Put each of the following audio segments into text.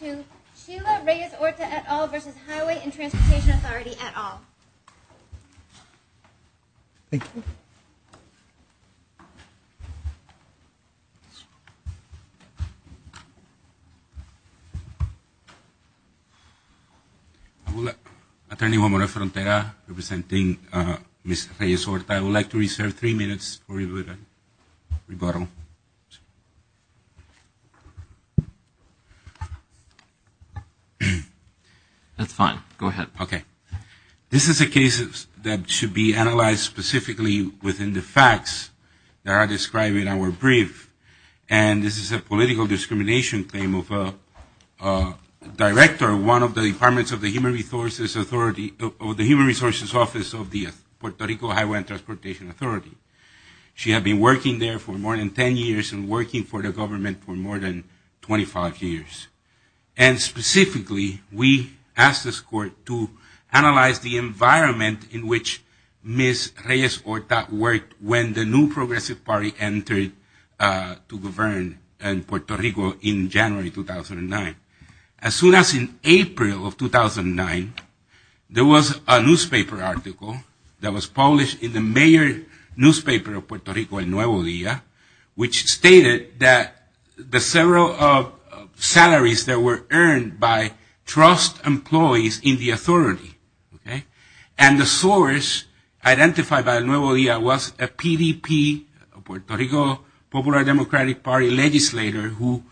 to Sheila Reyes-Orta et al. v. Highway and Transportation Authority et al. Thank you. Attorney Juan Moreno-Frontera, representing Ms. Reyes-Orta, I would like to reserve three minutes for your rebuttal. That's fine. Go ahead. Okay. This is a case that should be analyzed specifically within the facts that are described in our brief, and this is a political discrimination claim of a director of one of the departments of the Human Resources Office of the Puerto Rico Highway and Transportation Authority. She had been working there for more than 10 years and working for the government for more than 25 years. And specifically, we asked this court to analyze the environment in which Ms. Reyes-Orta worked when the new Progressive Party entered to govern in Puerto Rico in January 2009. As soon as in April of 2009, there was a newspaper article that was published in the major newspaper of Puerto Rico, El Nuevo Dia, which stated that the several salaries that were earned by trust employees in the authority, okay, and the source identified by El Nuevo Dia was a PDP, Puerto Rico Popular Democratic Party legislator, who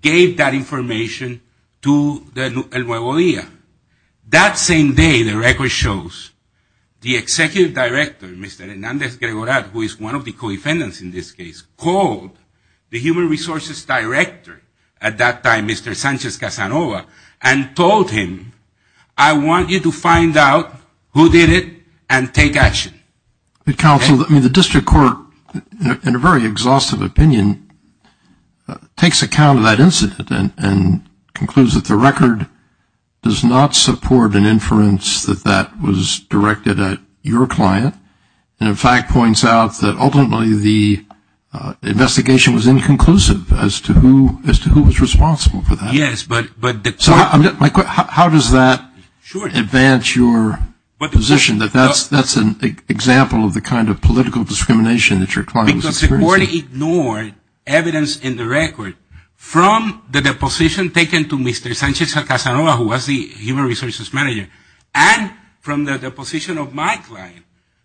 gave that information to El Nuevo Dia. That same day, the record shows the executive director, Mr. Hernandez-Gregorat, who is one of the co-defendants in this case, called the human resources director at that time, Mr. Sanchez-Casanova, and told him, I want you to find out who did it and take action. Counsel, the district court, in a very exhaustive opinion, takes account of that incident and concludes that the record does not support an inference that that was directed at your client, and in fact points out that ultimately the investigation was inconclusive as to who was responsible for that. Yes, but the court How does that advance your position that that's an example of the kind of political discrimination that your client was experiencing? Because the court ignored evidence in the record from the deposition taken to Mr. Sanchez-Casanova, who was the human resources manager, and from the deposition of my client,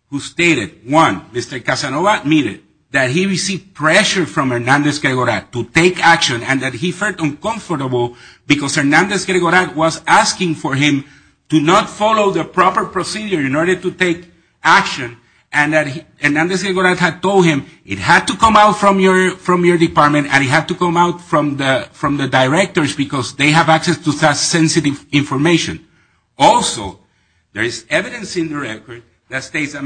who stated, one, Mr. Casanova admitted that he received pressure from Hernandez-Gregorat to take action and that he felt uncomfortable because Hernandez-Gregorat was asking for him to not follow the proper procedure in order to take action, and that Hernandez-Gregorat had told him it had to come out from your department and it had to come out from the directors because they have access to such sensitive information. Also, there is evidence in the record that states that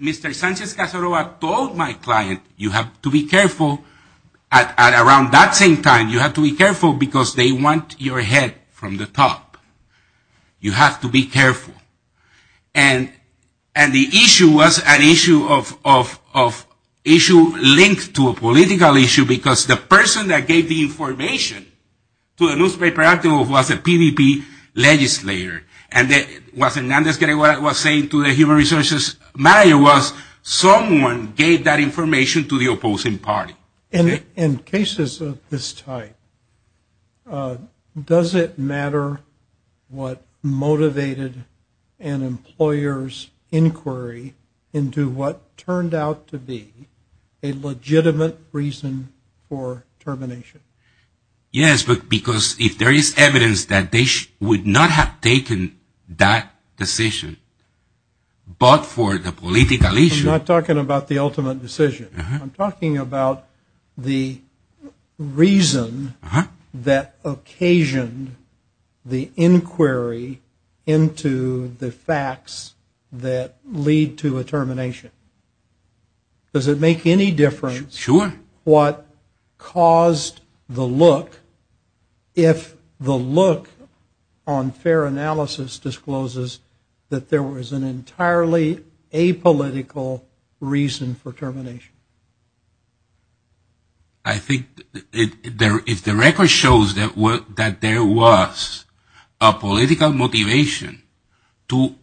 Mr. Sanchez-Casanova told my client, you have to be careful at around that same time. You have to be careful because they want your head from the top. You have to be careful, and the issue was an issue linked to a political issue because the person that gave the information to the newspaper article was a PDP legislator, and what Hernandez-Gregorat was saying to the human resources manager was someone gave that information to the opposing party. In cases of this type, does it matter what motivated an employer's inquiry into what turned out to be a legitimate reason for termination? Yes, but because if there is evidence that they would not have taken that decision, but for the political issue. I'm not talking about the ultimate decision. I'm talking about the reason that occasioned the inquiry into the facts that lead to a termination. Does it make any difference what caused the look if the look on fair analysis discloses that there was an entirely apolitical reason for termination? I think if the record shows that there was a political motivation to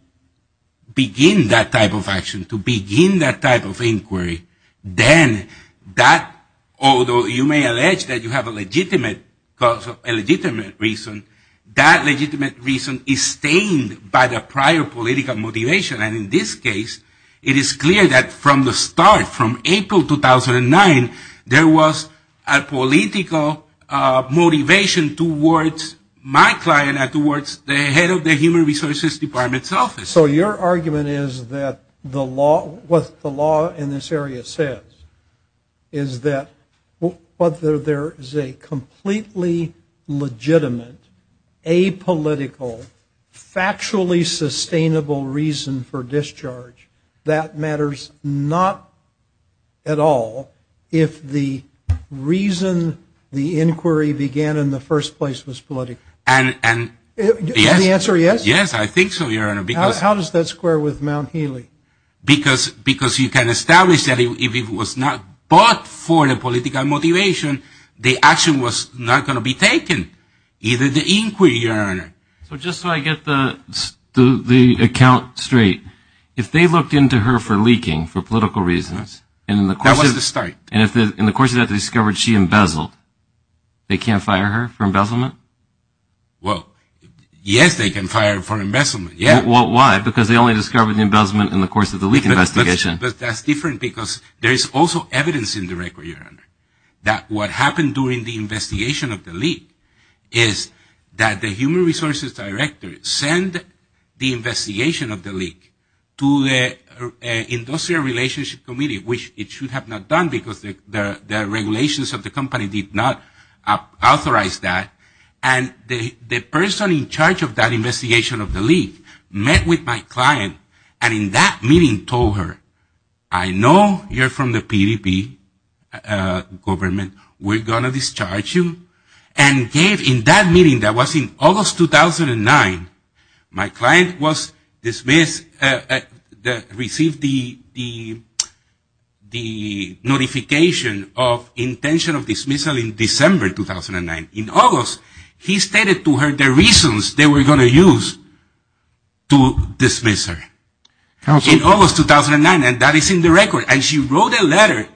begin that type of action, to begin that type of inquiry, then that, although you may allege that you have a legitimate cause, a legitimate reason, that legitimate reason is stained by the prior political motivation, and in this case, it is clear that from the start, from April 2009, there was a political motivation towards my client and towards the head of the human resources department's office. So your argument is that the law, what the law in this area says, is that whether there is a completely legitimate, apolitical, factually sustainable reason for discharge, that matters not at all if the reason the inquiry began in the first place was political. And the answer is yes? Yes, I think so, Your Honor. How does that square with Mount Healy? Because you can establish that if it was not bought for the political motivation, the action was not going to be taken, either the inquiry, Your Honor. So just so I get the account straight, if they looked into her for leaking for political reasons, That was the start. and in the course of that they discovered she embezzled, they can't fire her for embezzlement? Well, yes, they can fire her for embezzlement, yes. Why? Because they only discovered the embezzlement in the course of the leak investigation. But that's different because there is also evidence in the record, Your Honor, that what happened during the investigation of the leak is that the human resources director sent the investigation of the leak to the industrial relationship committee, which it should have not done because the regulations of the company did not authorize that. And the person in charge of that investigation of the leak met with my client and in that meeting told her, I know you're from the PDP government, we're going to discharge you, and gave in that meeting that was in August 2009, my client was dismissed, received the notification of intention of dismissal in December 2009. In August, he stated to her the reasons they were going to use to dismiss her. In August 2009, and that is in the record, and she wrote a letter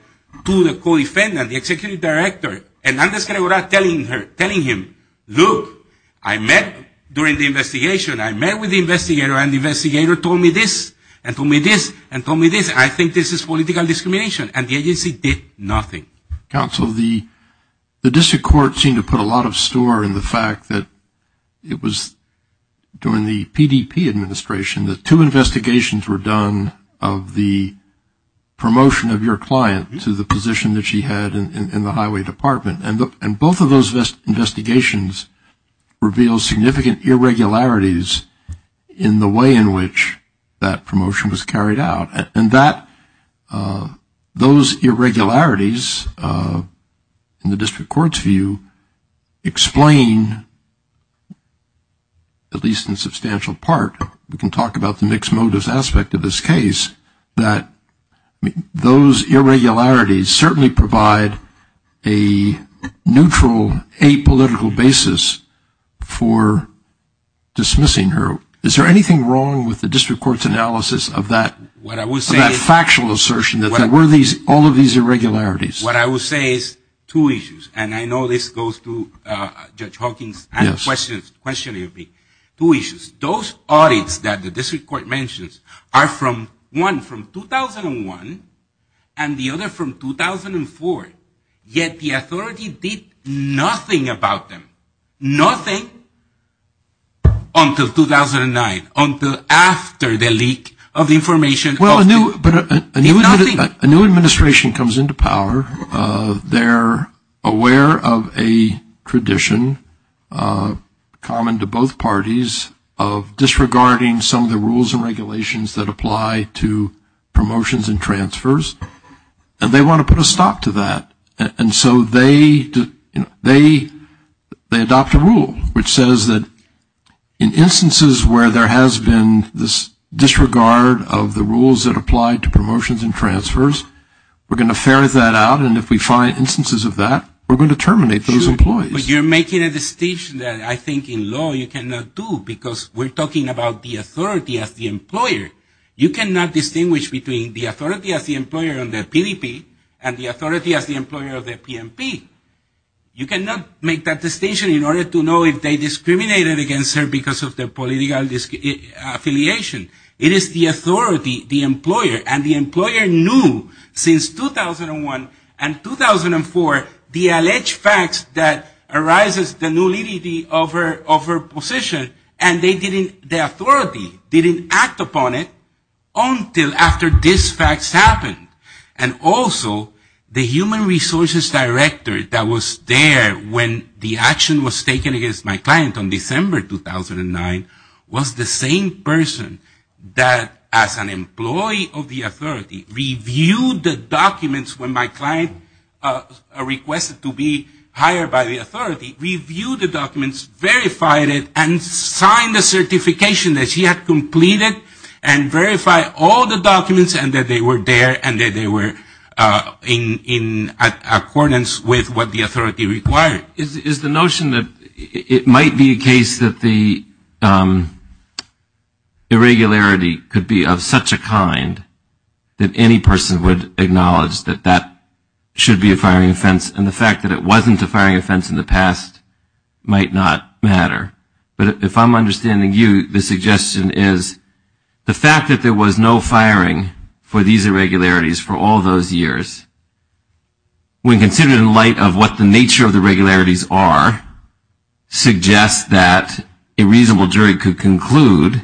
to the co-defendant, the executive director, and I'm just going to go back telling him, look, I met during the investigation, I met with the investigator and the investigator told me this and told me this and told me this, I think this is political discrimination. And the agency did nothing. Counsel, the district court seemed to put a lot of store in the fact that it was during the PDP administration that two investigations were done of the promotion of your client to the position that she had in the highway department. And both of those investigations revealed significant irregularities in the way in which that promotion was carried out. And that, those irregularities in the district court's view explain, at least in substantial part, we can talk about the mixed motives aspect of this case, that those irregularities certainly provide a neutral, apolitical basis for dismissing her. Is there anything wrong with the district court's analysis of that factual assertion that there were all of these irregularities? What I will say is two issues. And I know this goes to Judge Hawking's question. Two issues. Those audits that the district court mentions are one from 2001 and the other from 2004. Yet the authority did nothing about them. Nothing until 2009, until after the leak of information. Well, a new administration comes into power. They're aware of a tradition common to both parties of disregarding some of the rules and regulations that apply to promotions and transfers, and they want to put a stop to that. And so they adopt a rule which says that in instances where there has been this disregard of the rules that apply to promotions and transfers, we're going to ferret that out, and if we find instances of that, we're going to terminate those employees. But you're making a distinction that I think in law you cannot do, because we're talking about the authority as the employer. You cannot distinguish between the authority as the employer on the PDP and the authority as the employer of the PMP. You cannot make that distinction in order to know if they discriminated against her because of their political affiliation. It is the authority, the employer, and the employer knew since 2001 and 2004 the alleged facts that arises the nullity of her position, and the authority didn't act upon it until after these facts happened. And also the human resources director that was there when the action was taken against my client in December 2009 was the same person that as an employee of the authority reviewed the documents when my client requested to be hired by the authority, reviewed the documents, verified it, and signed the certification that she had completed and verified all the documents and that they were there and that they were in accordance with what the authority required. Is the notion that it might be a case that the irregularity could be of such a kind that any person would acknowledge that that should be a firing offense in the past might not matter. But if I'm understanding you, the suggestion is the fact that there was no firing for these irregularities for all those years when considered in light of what the nature of the regularities are suggests that a reasonable jury could conclude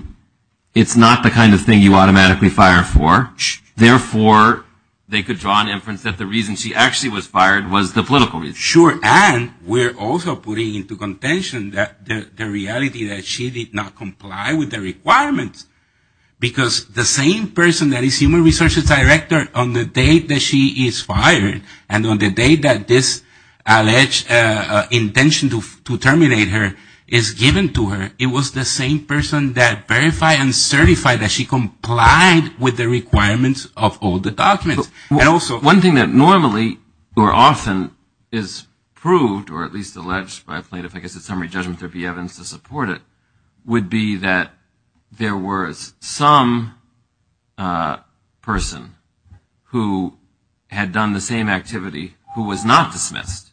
it's not the kind of thing you automatically fire for. Therefore, they could draw an inference that the reason she actually was fired was the political reason. Sure. And we're also putting into contention the reality that she did not comply with the requirements. Because the same person that is human resources director on the day that she is fired and on the day that this alleged intention to terminate her is given to her, it was the same person that verified and certified that she complied with the requirements of all the documents. One thing that normally or often is proved or at least alleged by plaintiff, I guess it's summary judgment, there'd be evidence to support it, would be that there was some person who had done the same activity who was not dismissed.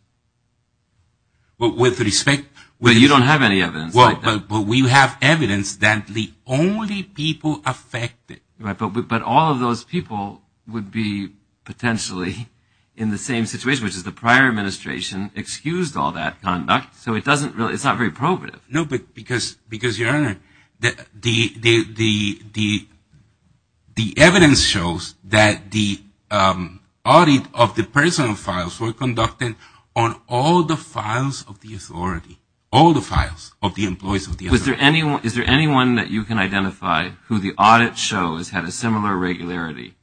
But with respect to... Well, you don't have any evidence like that. But we have evidence that the only people affected... But all of those people would be potentially in the same situation, which is the prior administration excused all that conduct. So it's not very probative. No, but because, Your Honor, the evidence shows that the audit of the personal files were conducted on all the files of the authority, all the files of the employees of the authority. Is there anyone that you can identify who the audit shows had a similar regularity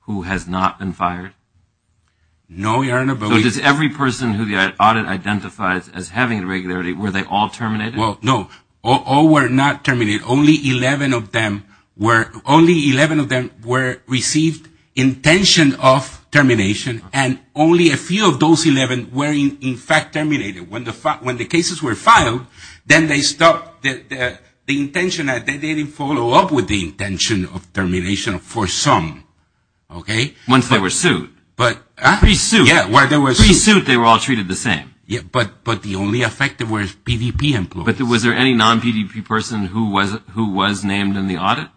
who has not been fired? No, Your Honor, but we... So does every person who the audit identifies as having a regularity, were they all terminated? No, all were not terminated. Only 11 of them were received intention of termination and only a few of those 11 were in fact terminated. When the cases were filed, then they stopped, the intention, they didn't follow up with the intention of termination for some. Okay. Once they were sued. But... Pre-suit. Yeah, when they were sued. Pre-suit, they were all treated the same. Yeah, but the only affected were PDP employees. But was there any non-PDP person who was named in the audit?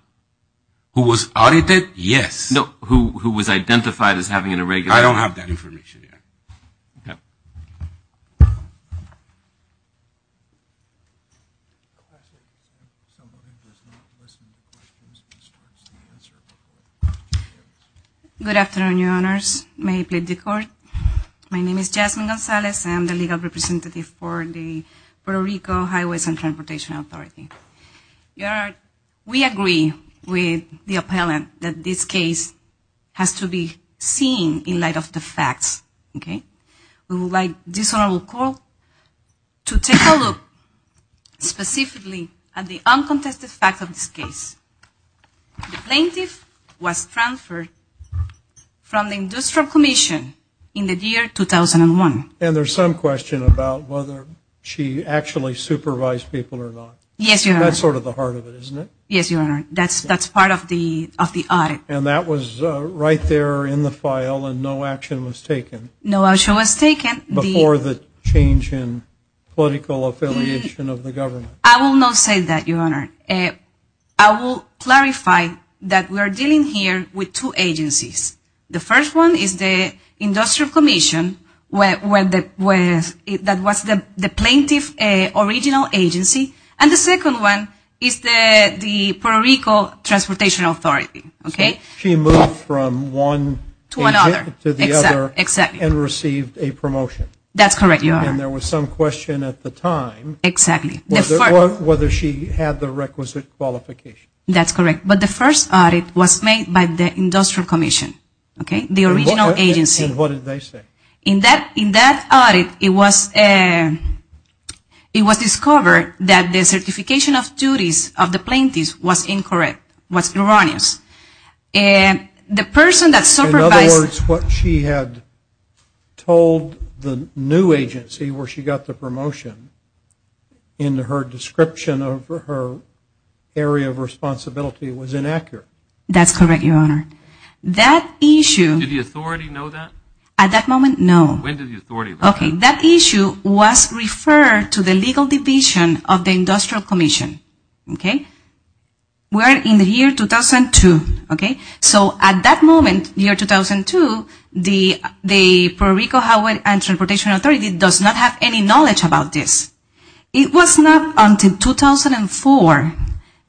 Who was audited? Yes. No, who was identified as having an irregularity. I don't have that information yet. Good afternoon, Your Honors. May I plead the Court? My name is Jasmine Gonzalez. I am the legal representative for the Puerto Rico Highways and Transportation Authority. Your Honor, we agree with the appellant that this case has to be seen in light of the facts, okay? We would like this Honorable Court to take a look specifically at the uncontested facts of this case. The plaintiff was transferred from the Industrial Commission in the year 2001. And there's some question about whether she actually supervised people or not. Yes, Your Honor. That's sort of the heart of it, isn't it? Yes, Your Honor. That's part of the audit. And that was right there in the file and no action was taken. No action was taken. Before the change in political affiliation of the government. I will not say that, Your Honor. I will clarify that we are dealing here with two agencies. The first one is the Industrial Commission that was the plaintiff's original agency. And the second one is the Puerto Rico Transportation Authority, okay? She moved from one to the other and received a promotion. That's correct, Your Honor. And there was some question at the time whether she had the requisite qualification. That's correct. But the first audit was made by the Industrial Commission, okay? The original agency. And what did they say? In that audit, it was discovered that the certification of duties of the plaintiff was incorrect, was erroneous. And the person that supervised... In other words, what she had told the new agency where she got the promotion in her description of her area of responsibility was inaccurate. That's correct, Your Honor. That issue... Did the authority know that? At that moment, no. When did the authority know that? Okay, that issue was referred to the legal division of the Industrial Commission, okay? Where in the year 2002, okay? So at that moment, year 2002, the Puerto Rico Highway and Transportation Authority does not have any knowledge about this. It was not until 2004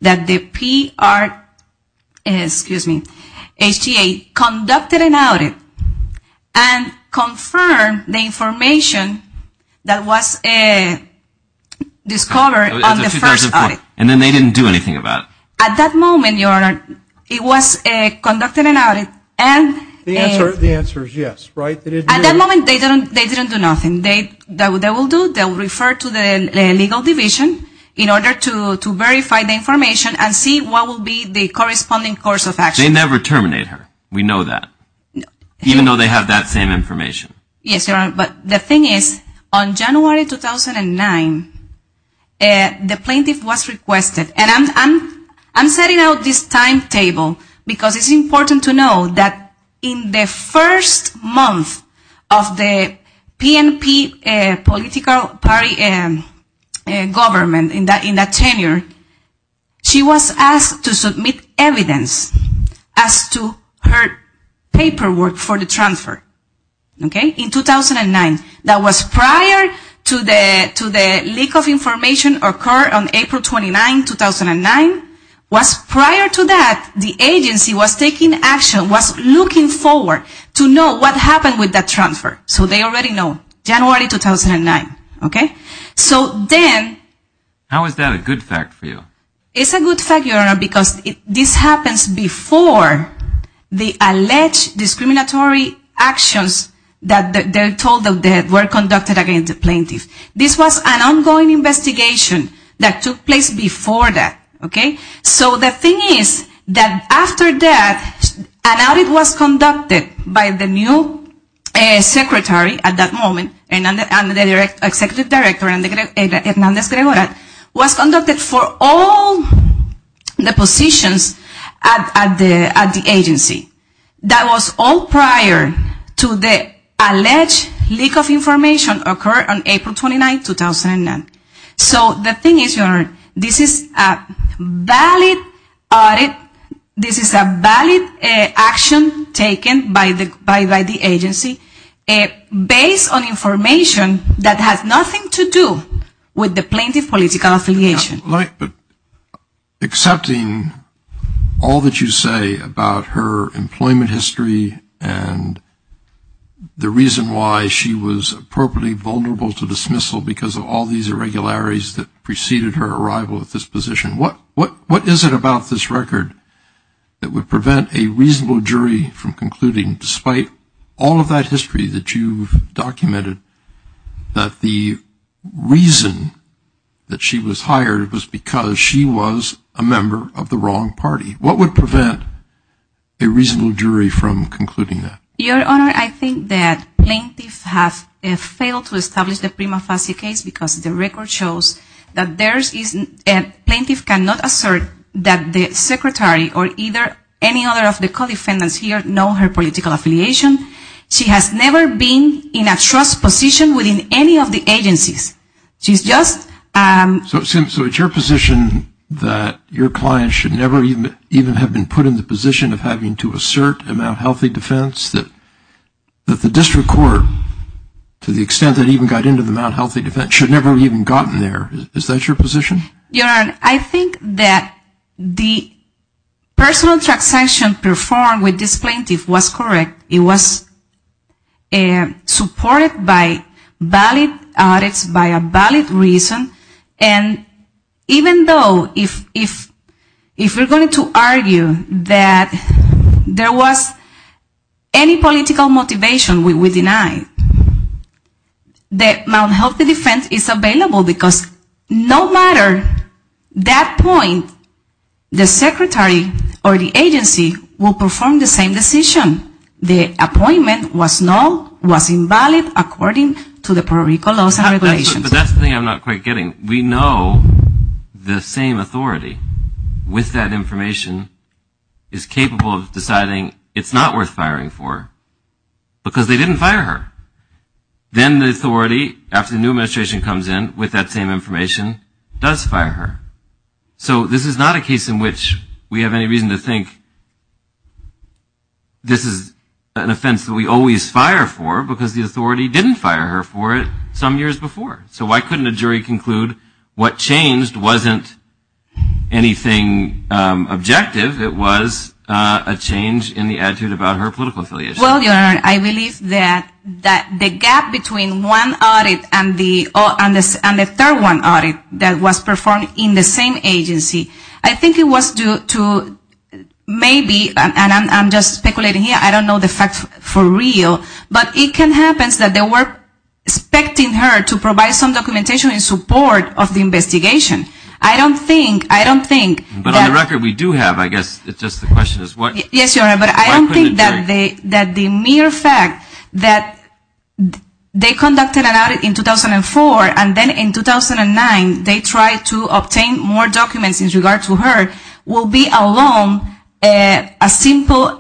that the PR, excuse me, HTA conducted an audit and confirmed the information that was discovered on the first audit. And then they didn't do anything about it. At that moment, Your Honor, it was conducted an audit and... The answer is yes, right? At that moment, they didn't do nothing. They will do... They will refer to the legal division in order to verify the information and see what will be the corresponding course of action. They never terminate her. We know that. Even though they have that same information. Yes, Your Honor. But the thing is, on January 2009, the plaintiff was requested... And I'm setting out this timetable because it's important to know that in the first month of the PNP political party government in that tenure, she was asked to submit evidence as to her paperwork for the transfer, okay, in 2009. That was prior to the leak of information occurred on April 29, 2009. Was prior to that, the agency was taking action, was looking forward to know what happened with that transfer. So they already know. January 2009, okay? So then... How is that a good fact for you? It's a good fact, Your Honor, because this happens before the alleged discriminatory actions that they're told were conducted against the plaintiff. This was an ongoing investigation that took place before that, okay? So all the positions at the agency, that was all prior to the alleged leak of information occurred on April 29, 2009. So the thing is, Your Honor, this is a valid audit. This is a valid action taken by the agency based on information that has nothing to do with the plaintiff's political affiliation. But accepting all that you say about her employment history and the reason why she was appropriately vulnerable to dismissal because of all these irregularities that preceded her arrival at this position, what is it about this record that would prevent a reasonable jury from concluding, despite all of that history that you've documented, that the reason that she was hired was because she was a member of the wrong party? What would prevent a reasonable jury from concluding that? Your Honor, I think that plaintiffs have failed to establish the prima facie case because the record shows that plaintiff cannot assert that the secretary or either any other of the co-defendants here know her political affiliation. She has never been in a trust position within any of the agencies. She's just... So it's your position that your client should never even have been put in the position of having to assert a mount healthy defense, that the district court, to the extent that it even got into the mount healthy defense, should never have even gotten there. Is that your position? Your Honor, I think that the personal transaction performed with this plaintiff was correct. It was supported by valid audits, by a valid reason. And even though if we're going to argue that there was any political motivation we would deny, the mount healthy defense is available because no matter that point, the secretary or the agency will perform the same decision. The appointment was null, was invalid according to the parochial laws and regulations. But that's the thing I'm not quite getting. We know the same authority with that information is capable of deciding it's not worth firing for because they didn't fire her. Then the authority, after the new administration comes in with that same information, does fire her. So this is not a case in which we have any reason to think this is an offense that we always fire for because the authority didn't fire her for it some years before. So why couldn't a jury conclude what changed wasn't anything objective, it was a change in the attitude about her political affiliation? Well, Your Honor, I believe that the gap between one audit and the third one audit that was performed in the same agency, I think it was due to maybe, and I'm just speculating here, I don't know the facts for real, but it can happen that they were expecting her to provide some documentation in support of the investigation. I don't think, I don't think that... But on the record, we do have, I guess, it's just the question is what... Yes, Your Honor, but I don't think that the mere fact that they conducted an audit in 2004 and then in 2009 they tried to obtain more documents in regard to her, will be alone a simple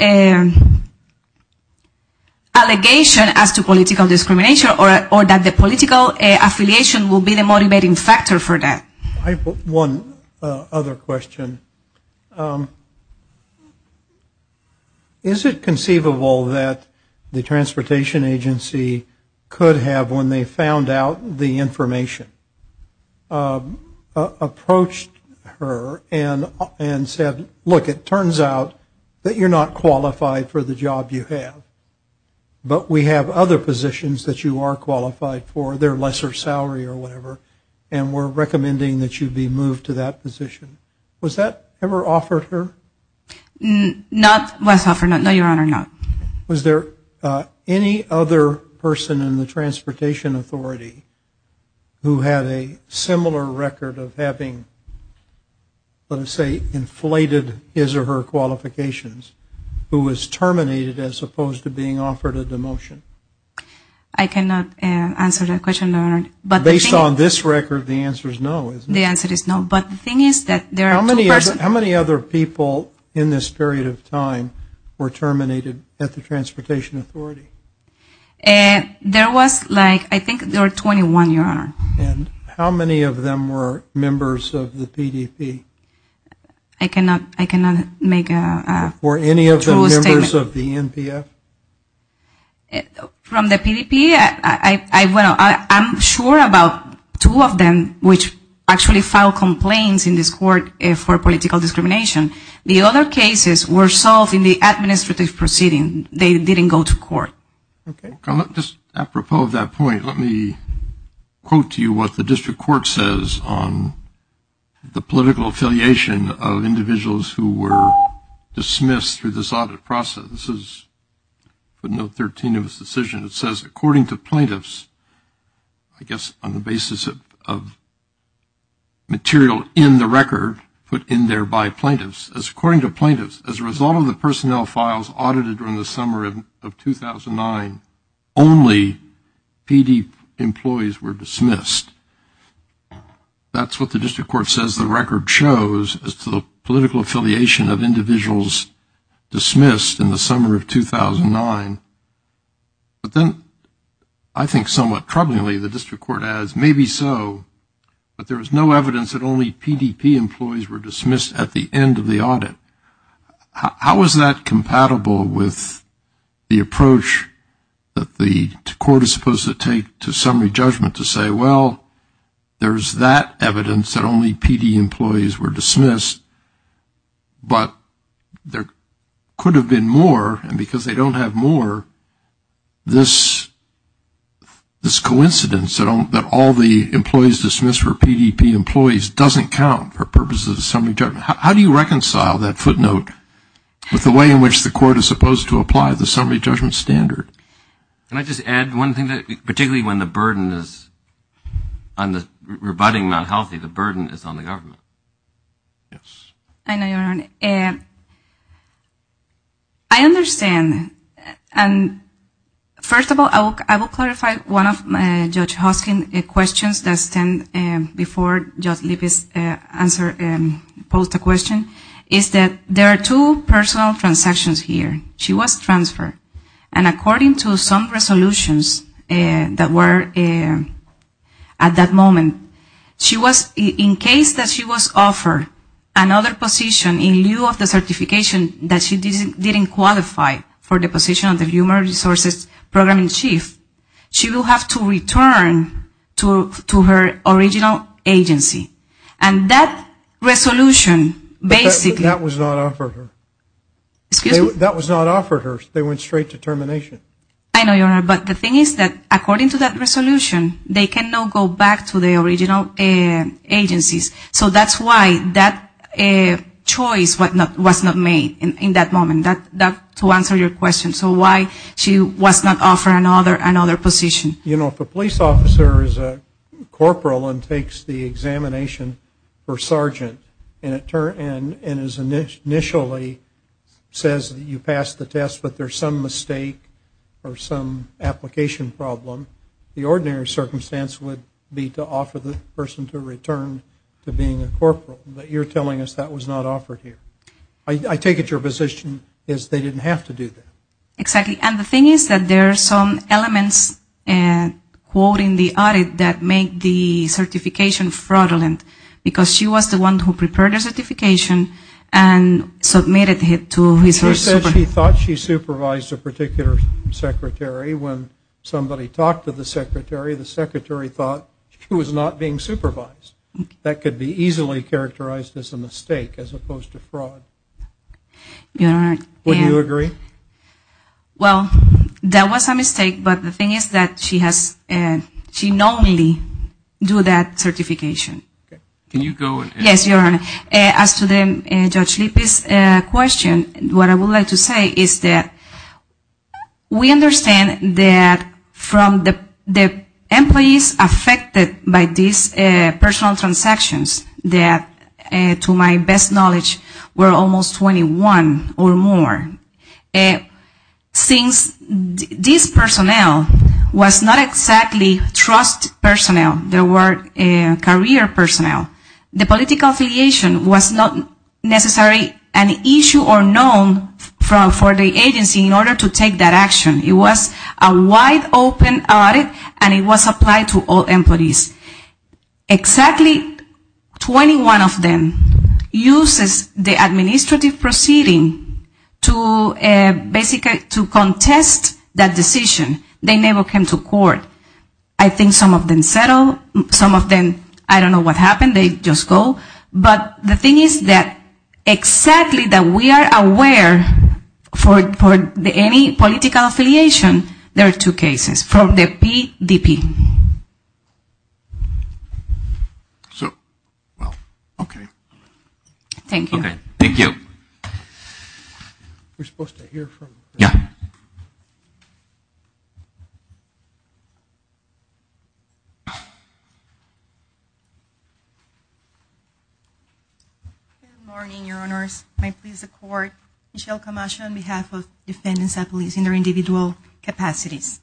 allegation as to political discrimination or that the political affiliation will be the motivating factor for that. I have one other question. Is it conceivable that the transportation agency could have, when they found out the information, approached her and asked her to provide more information? And said, look, it turns out that you're not qualified for the job you have. But we have other positions that you are qualified for, they're lesser salary or whatever, and we're recommending that you be moved to that position. Was that ever offered her? Not less offered, no, Your Honor, not. Was there any other person in the transportation authority who had a similar record of having, let's say, inflated his or her qualifications, who was terminated as opposed to being offered a demotion? I cannot answer that question, Your Honor. Based on this record, the answer is no, isn't it? The answer is no, but the thing is that there are two persons. How many other people in this period of time were terminated at the transportation authority? There was like, I think there were 21, Your Honor. And how many of them were members of the PDP? I cannot make a true statement. Were any of them members of the NPF? From the PDP, I'm sure about two of them, which actually filed complaints in this court for political discrimination. The other cases were solved in the administrative proceeding. They didn't go to court. Okay, just apropos of that point, let me quote to you what the district court says on the political affiliation of individuals who were dismissed through this audit process. It says, according to plaintiffs, I guess on the basis of material in the record put in there by plaintiffs, according to plaintiffs, as a result of the personnel files audited during the summer of 2009, only PD employees were dismissed. That's what the district court says the record shows, as to the political affiliation of individuals dismissed in the summer of 2009. But then, I think somewhat troublingly, the district court adds, maybe so, but there was no evidence that only PDP employees were dismissed at the end of the audit. How is that compatible with the approach that the court is supposed to take to summary judgment to say, well, there's that evidence that only PD employees were dismissed, but there could have been more, and because they don't have more, this coincidence that all the employees dismissed were PDP employees doesn't count for purposes of summary judgment. How do you reconcile that footnote with the way in which the court is supposed to apply the summary judgment standard? Can I just add one thing, particularly when the burden is on the rebutting not healthy, the burden is on the government. Yes. I understand. First of all, I will clarify one of Judge Hoskin's questions that stand before Judge Lippis answer and pose the question, is that there are two personal transactions here. One is that she was transferred, and according to some resolutions that were at that moment, she was, in case that she was offered another position in lieu of the certification that she didn't qualify for the position of the Human Resources Programming Chief, she will have to return to her original agency. And that resolution, basically. And that was not offered her. That was not offered her. They went straight to termination. I know, Your Honor, but the thing is that according to that resolution, they cannot go back to their original agencies. So that's why that choice was not made in that moment, to answer your question. So why she was not offered another position? You know, if a police officer is a corporal and takes the examination for sergeant and is initially says that you passed the test, but there's some mistake or some application problem, the ordinary circumstance would be to offer the person to return to being a corporal. But you're telling us that was not offered here. I take it your position is they didn't have to do that. Exactly. And the thing is that there are some elements, quoting the audit, that make the certification fraudulent. Because she was the one who prepared the certification and submitted it to HRSA. She said she thought she supervised a particular secretary. When somebody talked to the secretary, the secretary thought she was not being supervised. That could be easily characterized as a mistake as opposed to fraud. Would you agree? Well, that was a mistake, but the thing is that she normally do that certification. Can you go? Yes, Your Honor. As to Judge Lippe's question, what I would like to say is that we understand that from the employees affected by these personal transactions, that to my best knowledge were almost 21 or more. Since this personnel was not exactly trust personnel, there were career personnel, the political affiliation was not necessarily an issue or known for the agency in order to take that action. It was a wide open audit and it was applied to all employees. Exactly 21 of them used the administrative proceeding to basically contest that decision. They never came to court. I think some of them settled. Some of them, I don't know what happened. They just go. But the thing is that exactly that we are aware for any political affiliation, there are two cases from the PDP. So, well, okay. Thank you. Good morning, Your Honors. My plea is to the Court. Michelle Camacho on behalf of Defendants at Police in their individual capacities.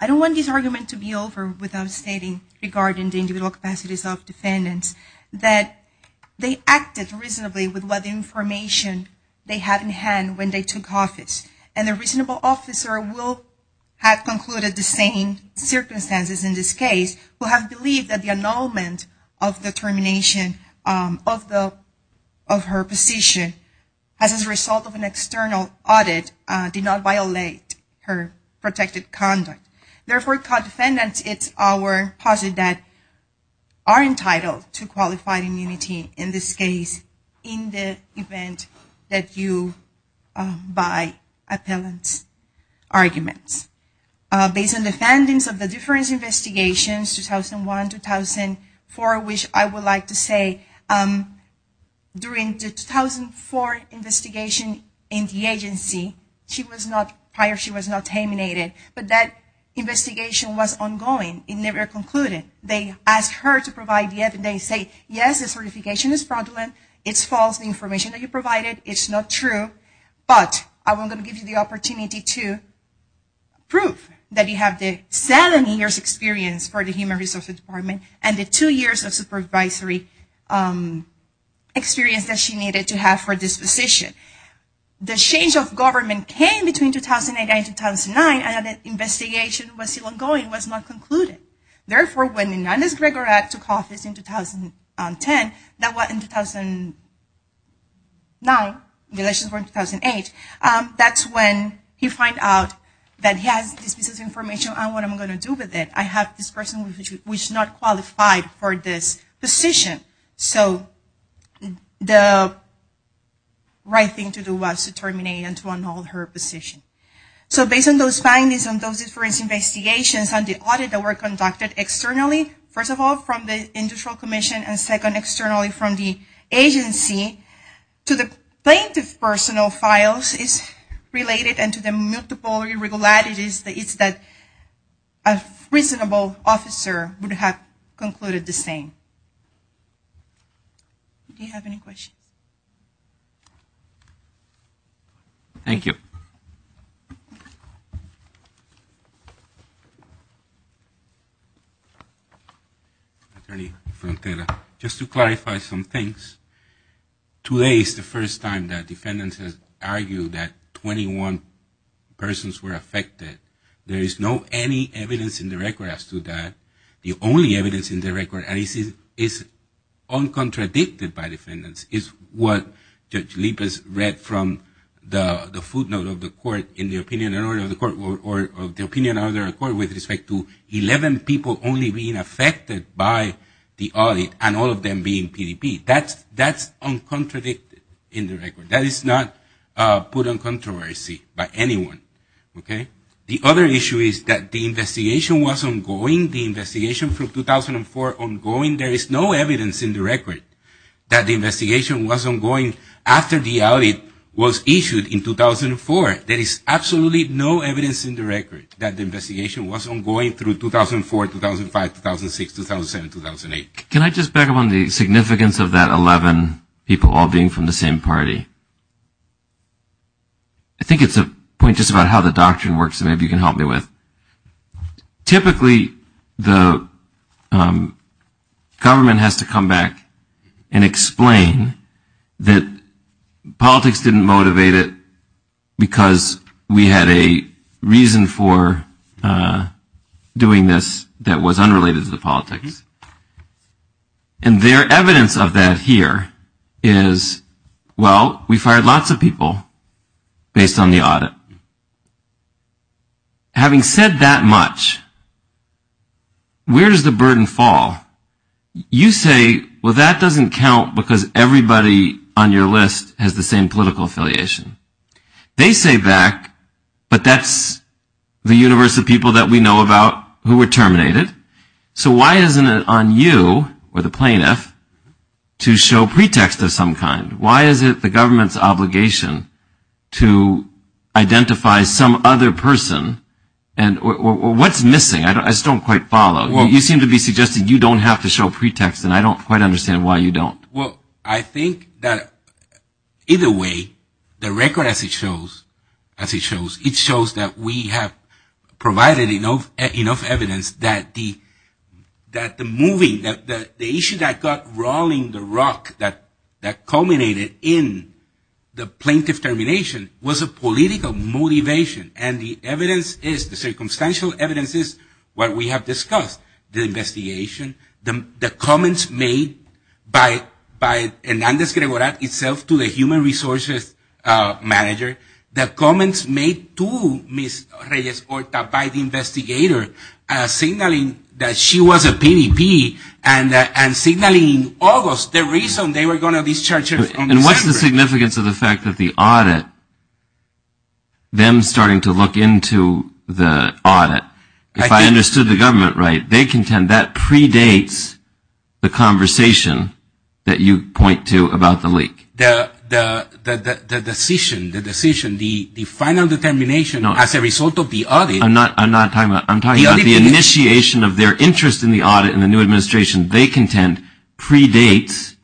I don't want this argument to be over without stating regarding the individual capacities of defendants that they acted reasonably with what information they had in hand when they took office. And a reasonable officer will have concluded the same circumstances in this case, who have believed that the annulment of the termination of her position as a result of an external audit did not violate her protected copyright. Therefore, for defendants, it's our posit that are entitled to qualified immunity in this case in the event that you buy appellant's arguments. Based on defendants of the different investigations, 2001, 2004, which I would like to say during the 2004 investigation in the agency, she was not terminated. She was terminated because the investigation was ongoing. It never concluded. They asked her to provide the evidence. They say, yes, the certification is fraudulent. It's false information that you provided. It's not true. But I'm going to give you the opportunity to prove that you have the seven years experience for the Human Resources Department and the two years of supervisory experience that she needed to have for this position. The change of government came between 2008 and 2009, and the investigation was still ongoing. It was not concluded. Therefore, when Inez Gregorak took office in 2010, that was in 2009 in relation to 2008, that's when he found out that he has this piece of information and what I'm going to do with it. I have this person who is not qualified for this position. So the right thing to do was to terminate and to annul her position. So based on those findings and those different investigations and the audit that were conducted externally, first of all from the industrial commission and second externally from the agency, to the plaintiff's personal files is related and to the multiple irregularities that a reasonable officer would have concluded the same. Do you have any questions? Thank you. Attorney Frontera, just to clarify some things. Today is the first time that defendants have argued that 21 persons were affected. There is no evidence in the record as to that. The only evidence in the record is uncontradicted by defendants is what Judge Lippes read from the footnote of the court in the opinion of the court with respect to 11 people only being affected by the audit and all of them being PDP. That's uncontradicted in the record. That is not put in controversy by anyone. The other issue is that the investigation was ongoing, the investigation from 2004 ongoing. There is no evidence in the record that the investigation was ongoing after the audit was issued in 2004. There is absolutely no evidence in the record that the investigation was ongoing through 2004, 2005, 2006, 2007, 2008. Can I just back up on the significance of that 11 people all being from the same party? I think it's a point just about how the doctrine works that maybe you can help me with. Typically, the government has to come back and explain that politics didn't motivate it because we had a reason for doing this that was unrelated to the politics. And their evidence of that here is, well, we fired lots of people based on the audit. Having said that much, where does the burden fall? You say, well, that doesn't count because everybody on your list has the same political affiliation. They say back, but that's the universe of people that we know about who were terminated. So why isn't it on you or the plaintiff to show pretext of some kind? Why is it the government's obligation to identify some other person? What's missing? I just don't quite follow. You seem to be suggesting you don't have to show pretext, and I don't quite understand why you don't. Well, I think that either way, the record as it shows, it shows that we have provided enough evidence that the government has to show that the issue that got rolling the rock that culminated in the plaintiff termination was a political motivation. And the evidence is, the circumstantial evidence is what we have discussed, the investigation, the comments made by Hernandez-Gregoirat itself to the human resources manager, the comments made to Ms. Reyes-Horta by the investigator, signaling that she was a PDP and signaling in August the reason they were going to discharge her. And what's the significance of the fact that the audit, them starting to look into the audit, if I understood the government right, they contend that predates the conversation that you point to about the leak? The decision, the final determination as a result of the audit. I'm not talking about, I'm talking about the initiation of their interest in the audit and the new administration. They contend predates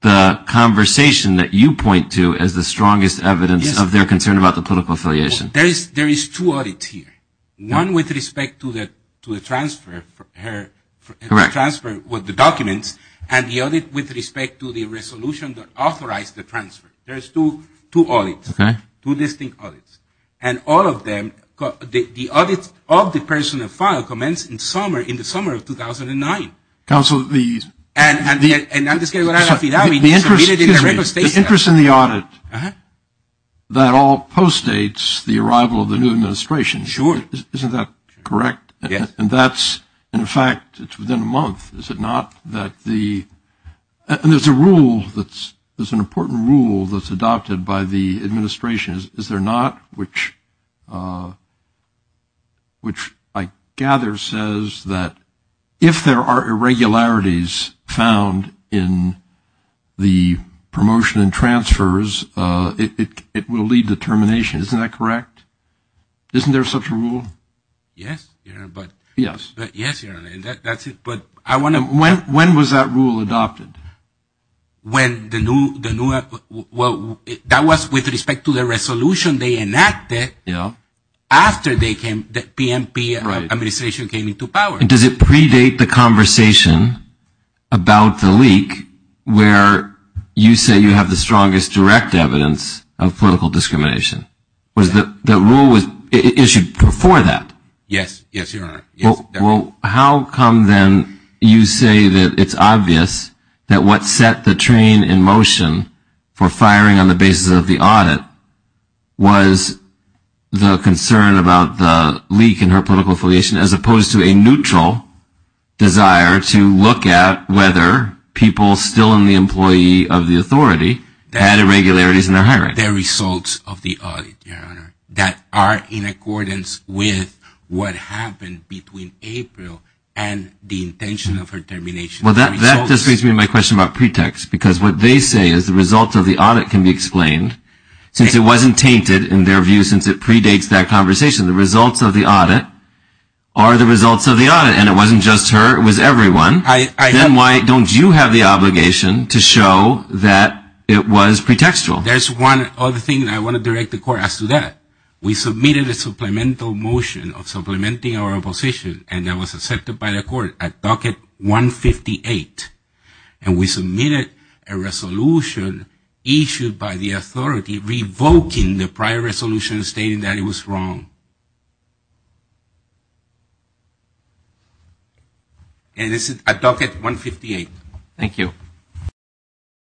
the conversation that you point to as the strongest evidence of their concern about the political affiliation. There is two audits here. One with respect to the transfer with the documents, and the other with respect to the resolution that authorized the transfer. There's two audits, two distinct audits. And all of them, the audit of the personal file commenced in the summer of 2009. Counsel, the interest in the audit, that all postdates the arrival of the new administration. Sure. Isn't that correct? Yes. And that's, in fact, it's within a month, is it not, that the, and there's a rule that's, there's an important rule that's adopted by the administration, is there not, which I gather says that if there are irregularities found in the promotion and transfers, it will lead to termination. Isn't that correct? Isn't there such a rule? Yes. When was that rule adopted? When the new, well, that was with respect to the resolution they enacted. Yeah. After they came, the PNP administration came into power. And does it predate the conversation about the leak where you say you have the strongest direct evidence of political discrimination? Yes. The rule was issued before that? Yes, yes, Your Honor. Well, how come then you say that it's obvious that what set the train in motion for firing on the basis of the audit was the concern about the leak in her political affiliation, as opposed to a neutral desire to look at whether people still in the employee of the authority had irregularities in their hiring? The results of the audit, Your Honor, that are in accordance with what happened between April and the intention of her termination. Well, that just brings me to my question about pretext, because what they say is the results of the audit can be explained, since it wasn't tainted in their view, since it predates that conversation. The results of the audit are the results of the audit, and it wasn't just her, it was everyone. Then why don't you have the obligation to show that it was pretextual? There's one other thing that I want to direct the Court as to that. We submitted a supplemental motion of supplementing our opposition, and that was accepted by the Court at docket 158. And we submitted a resolution issued by the authority revoking the prior resolution stating that it was wrong. And this is at docket 158. Thank you.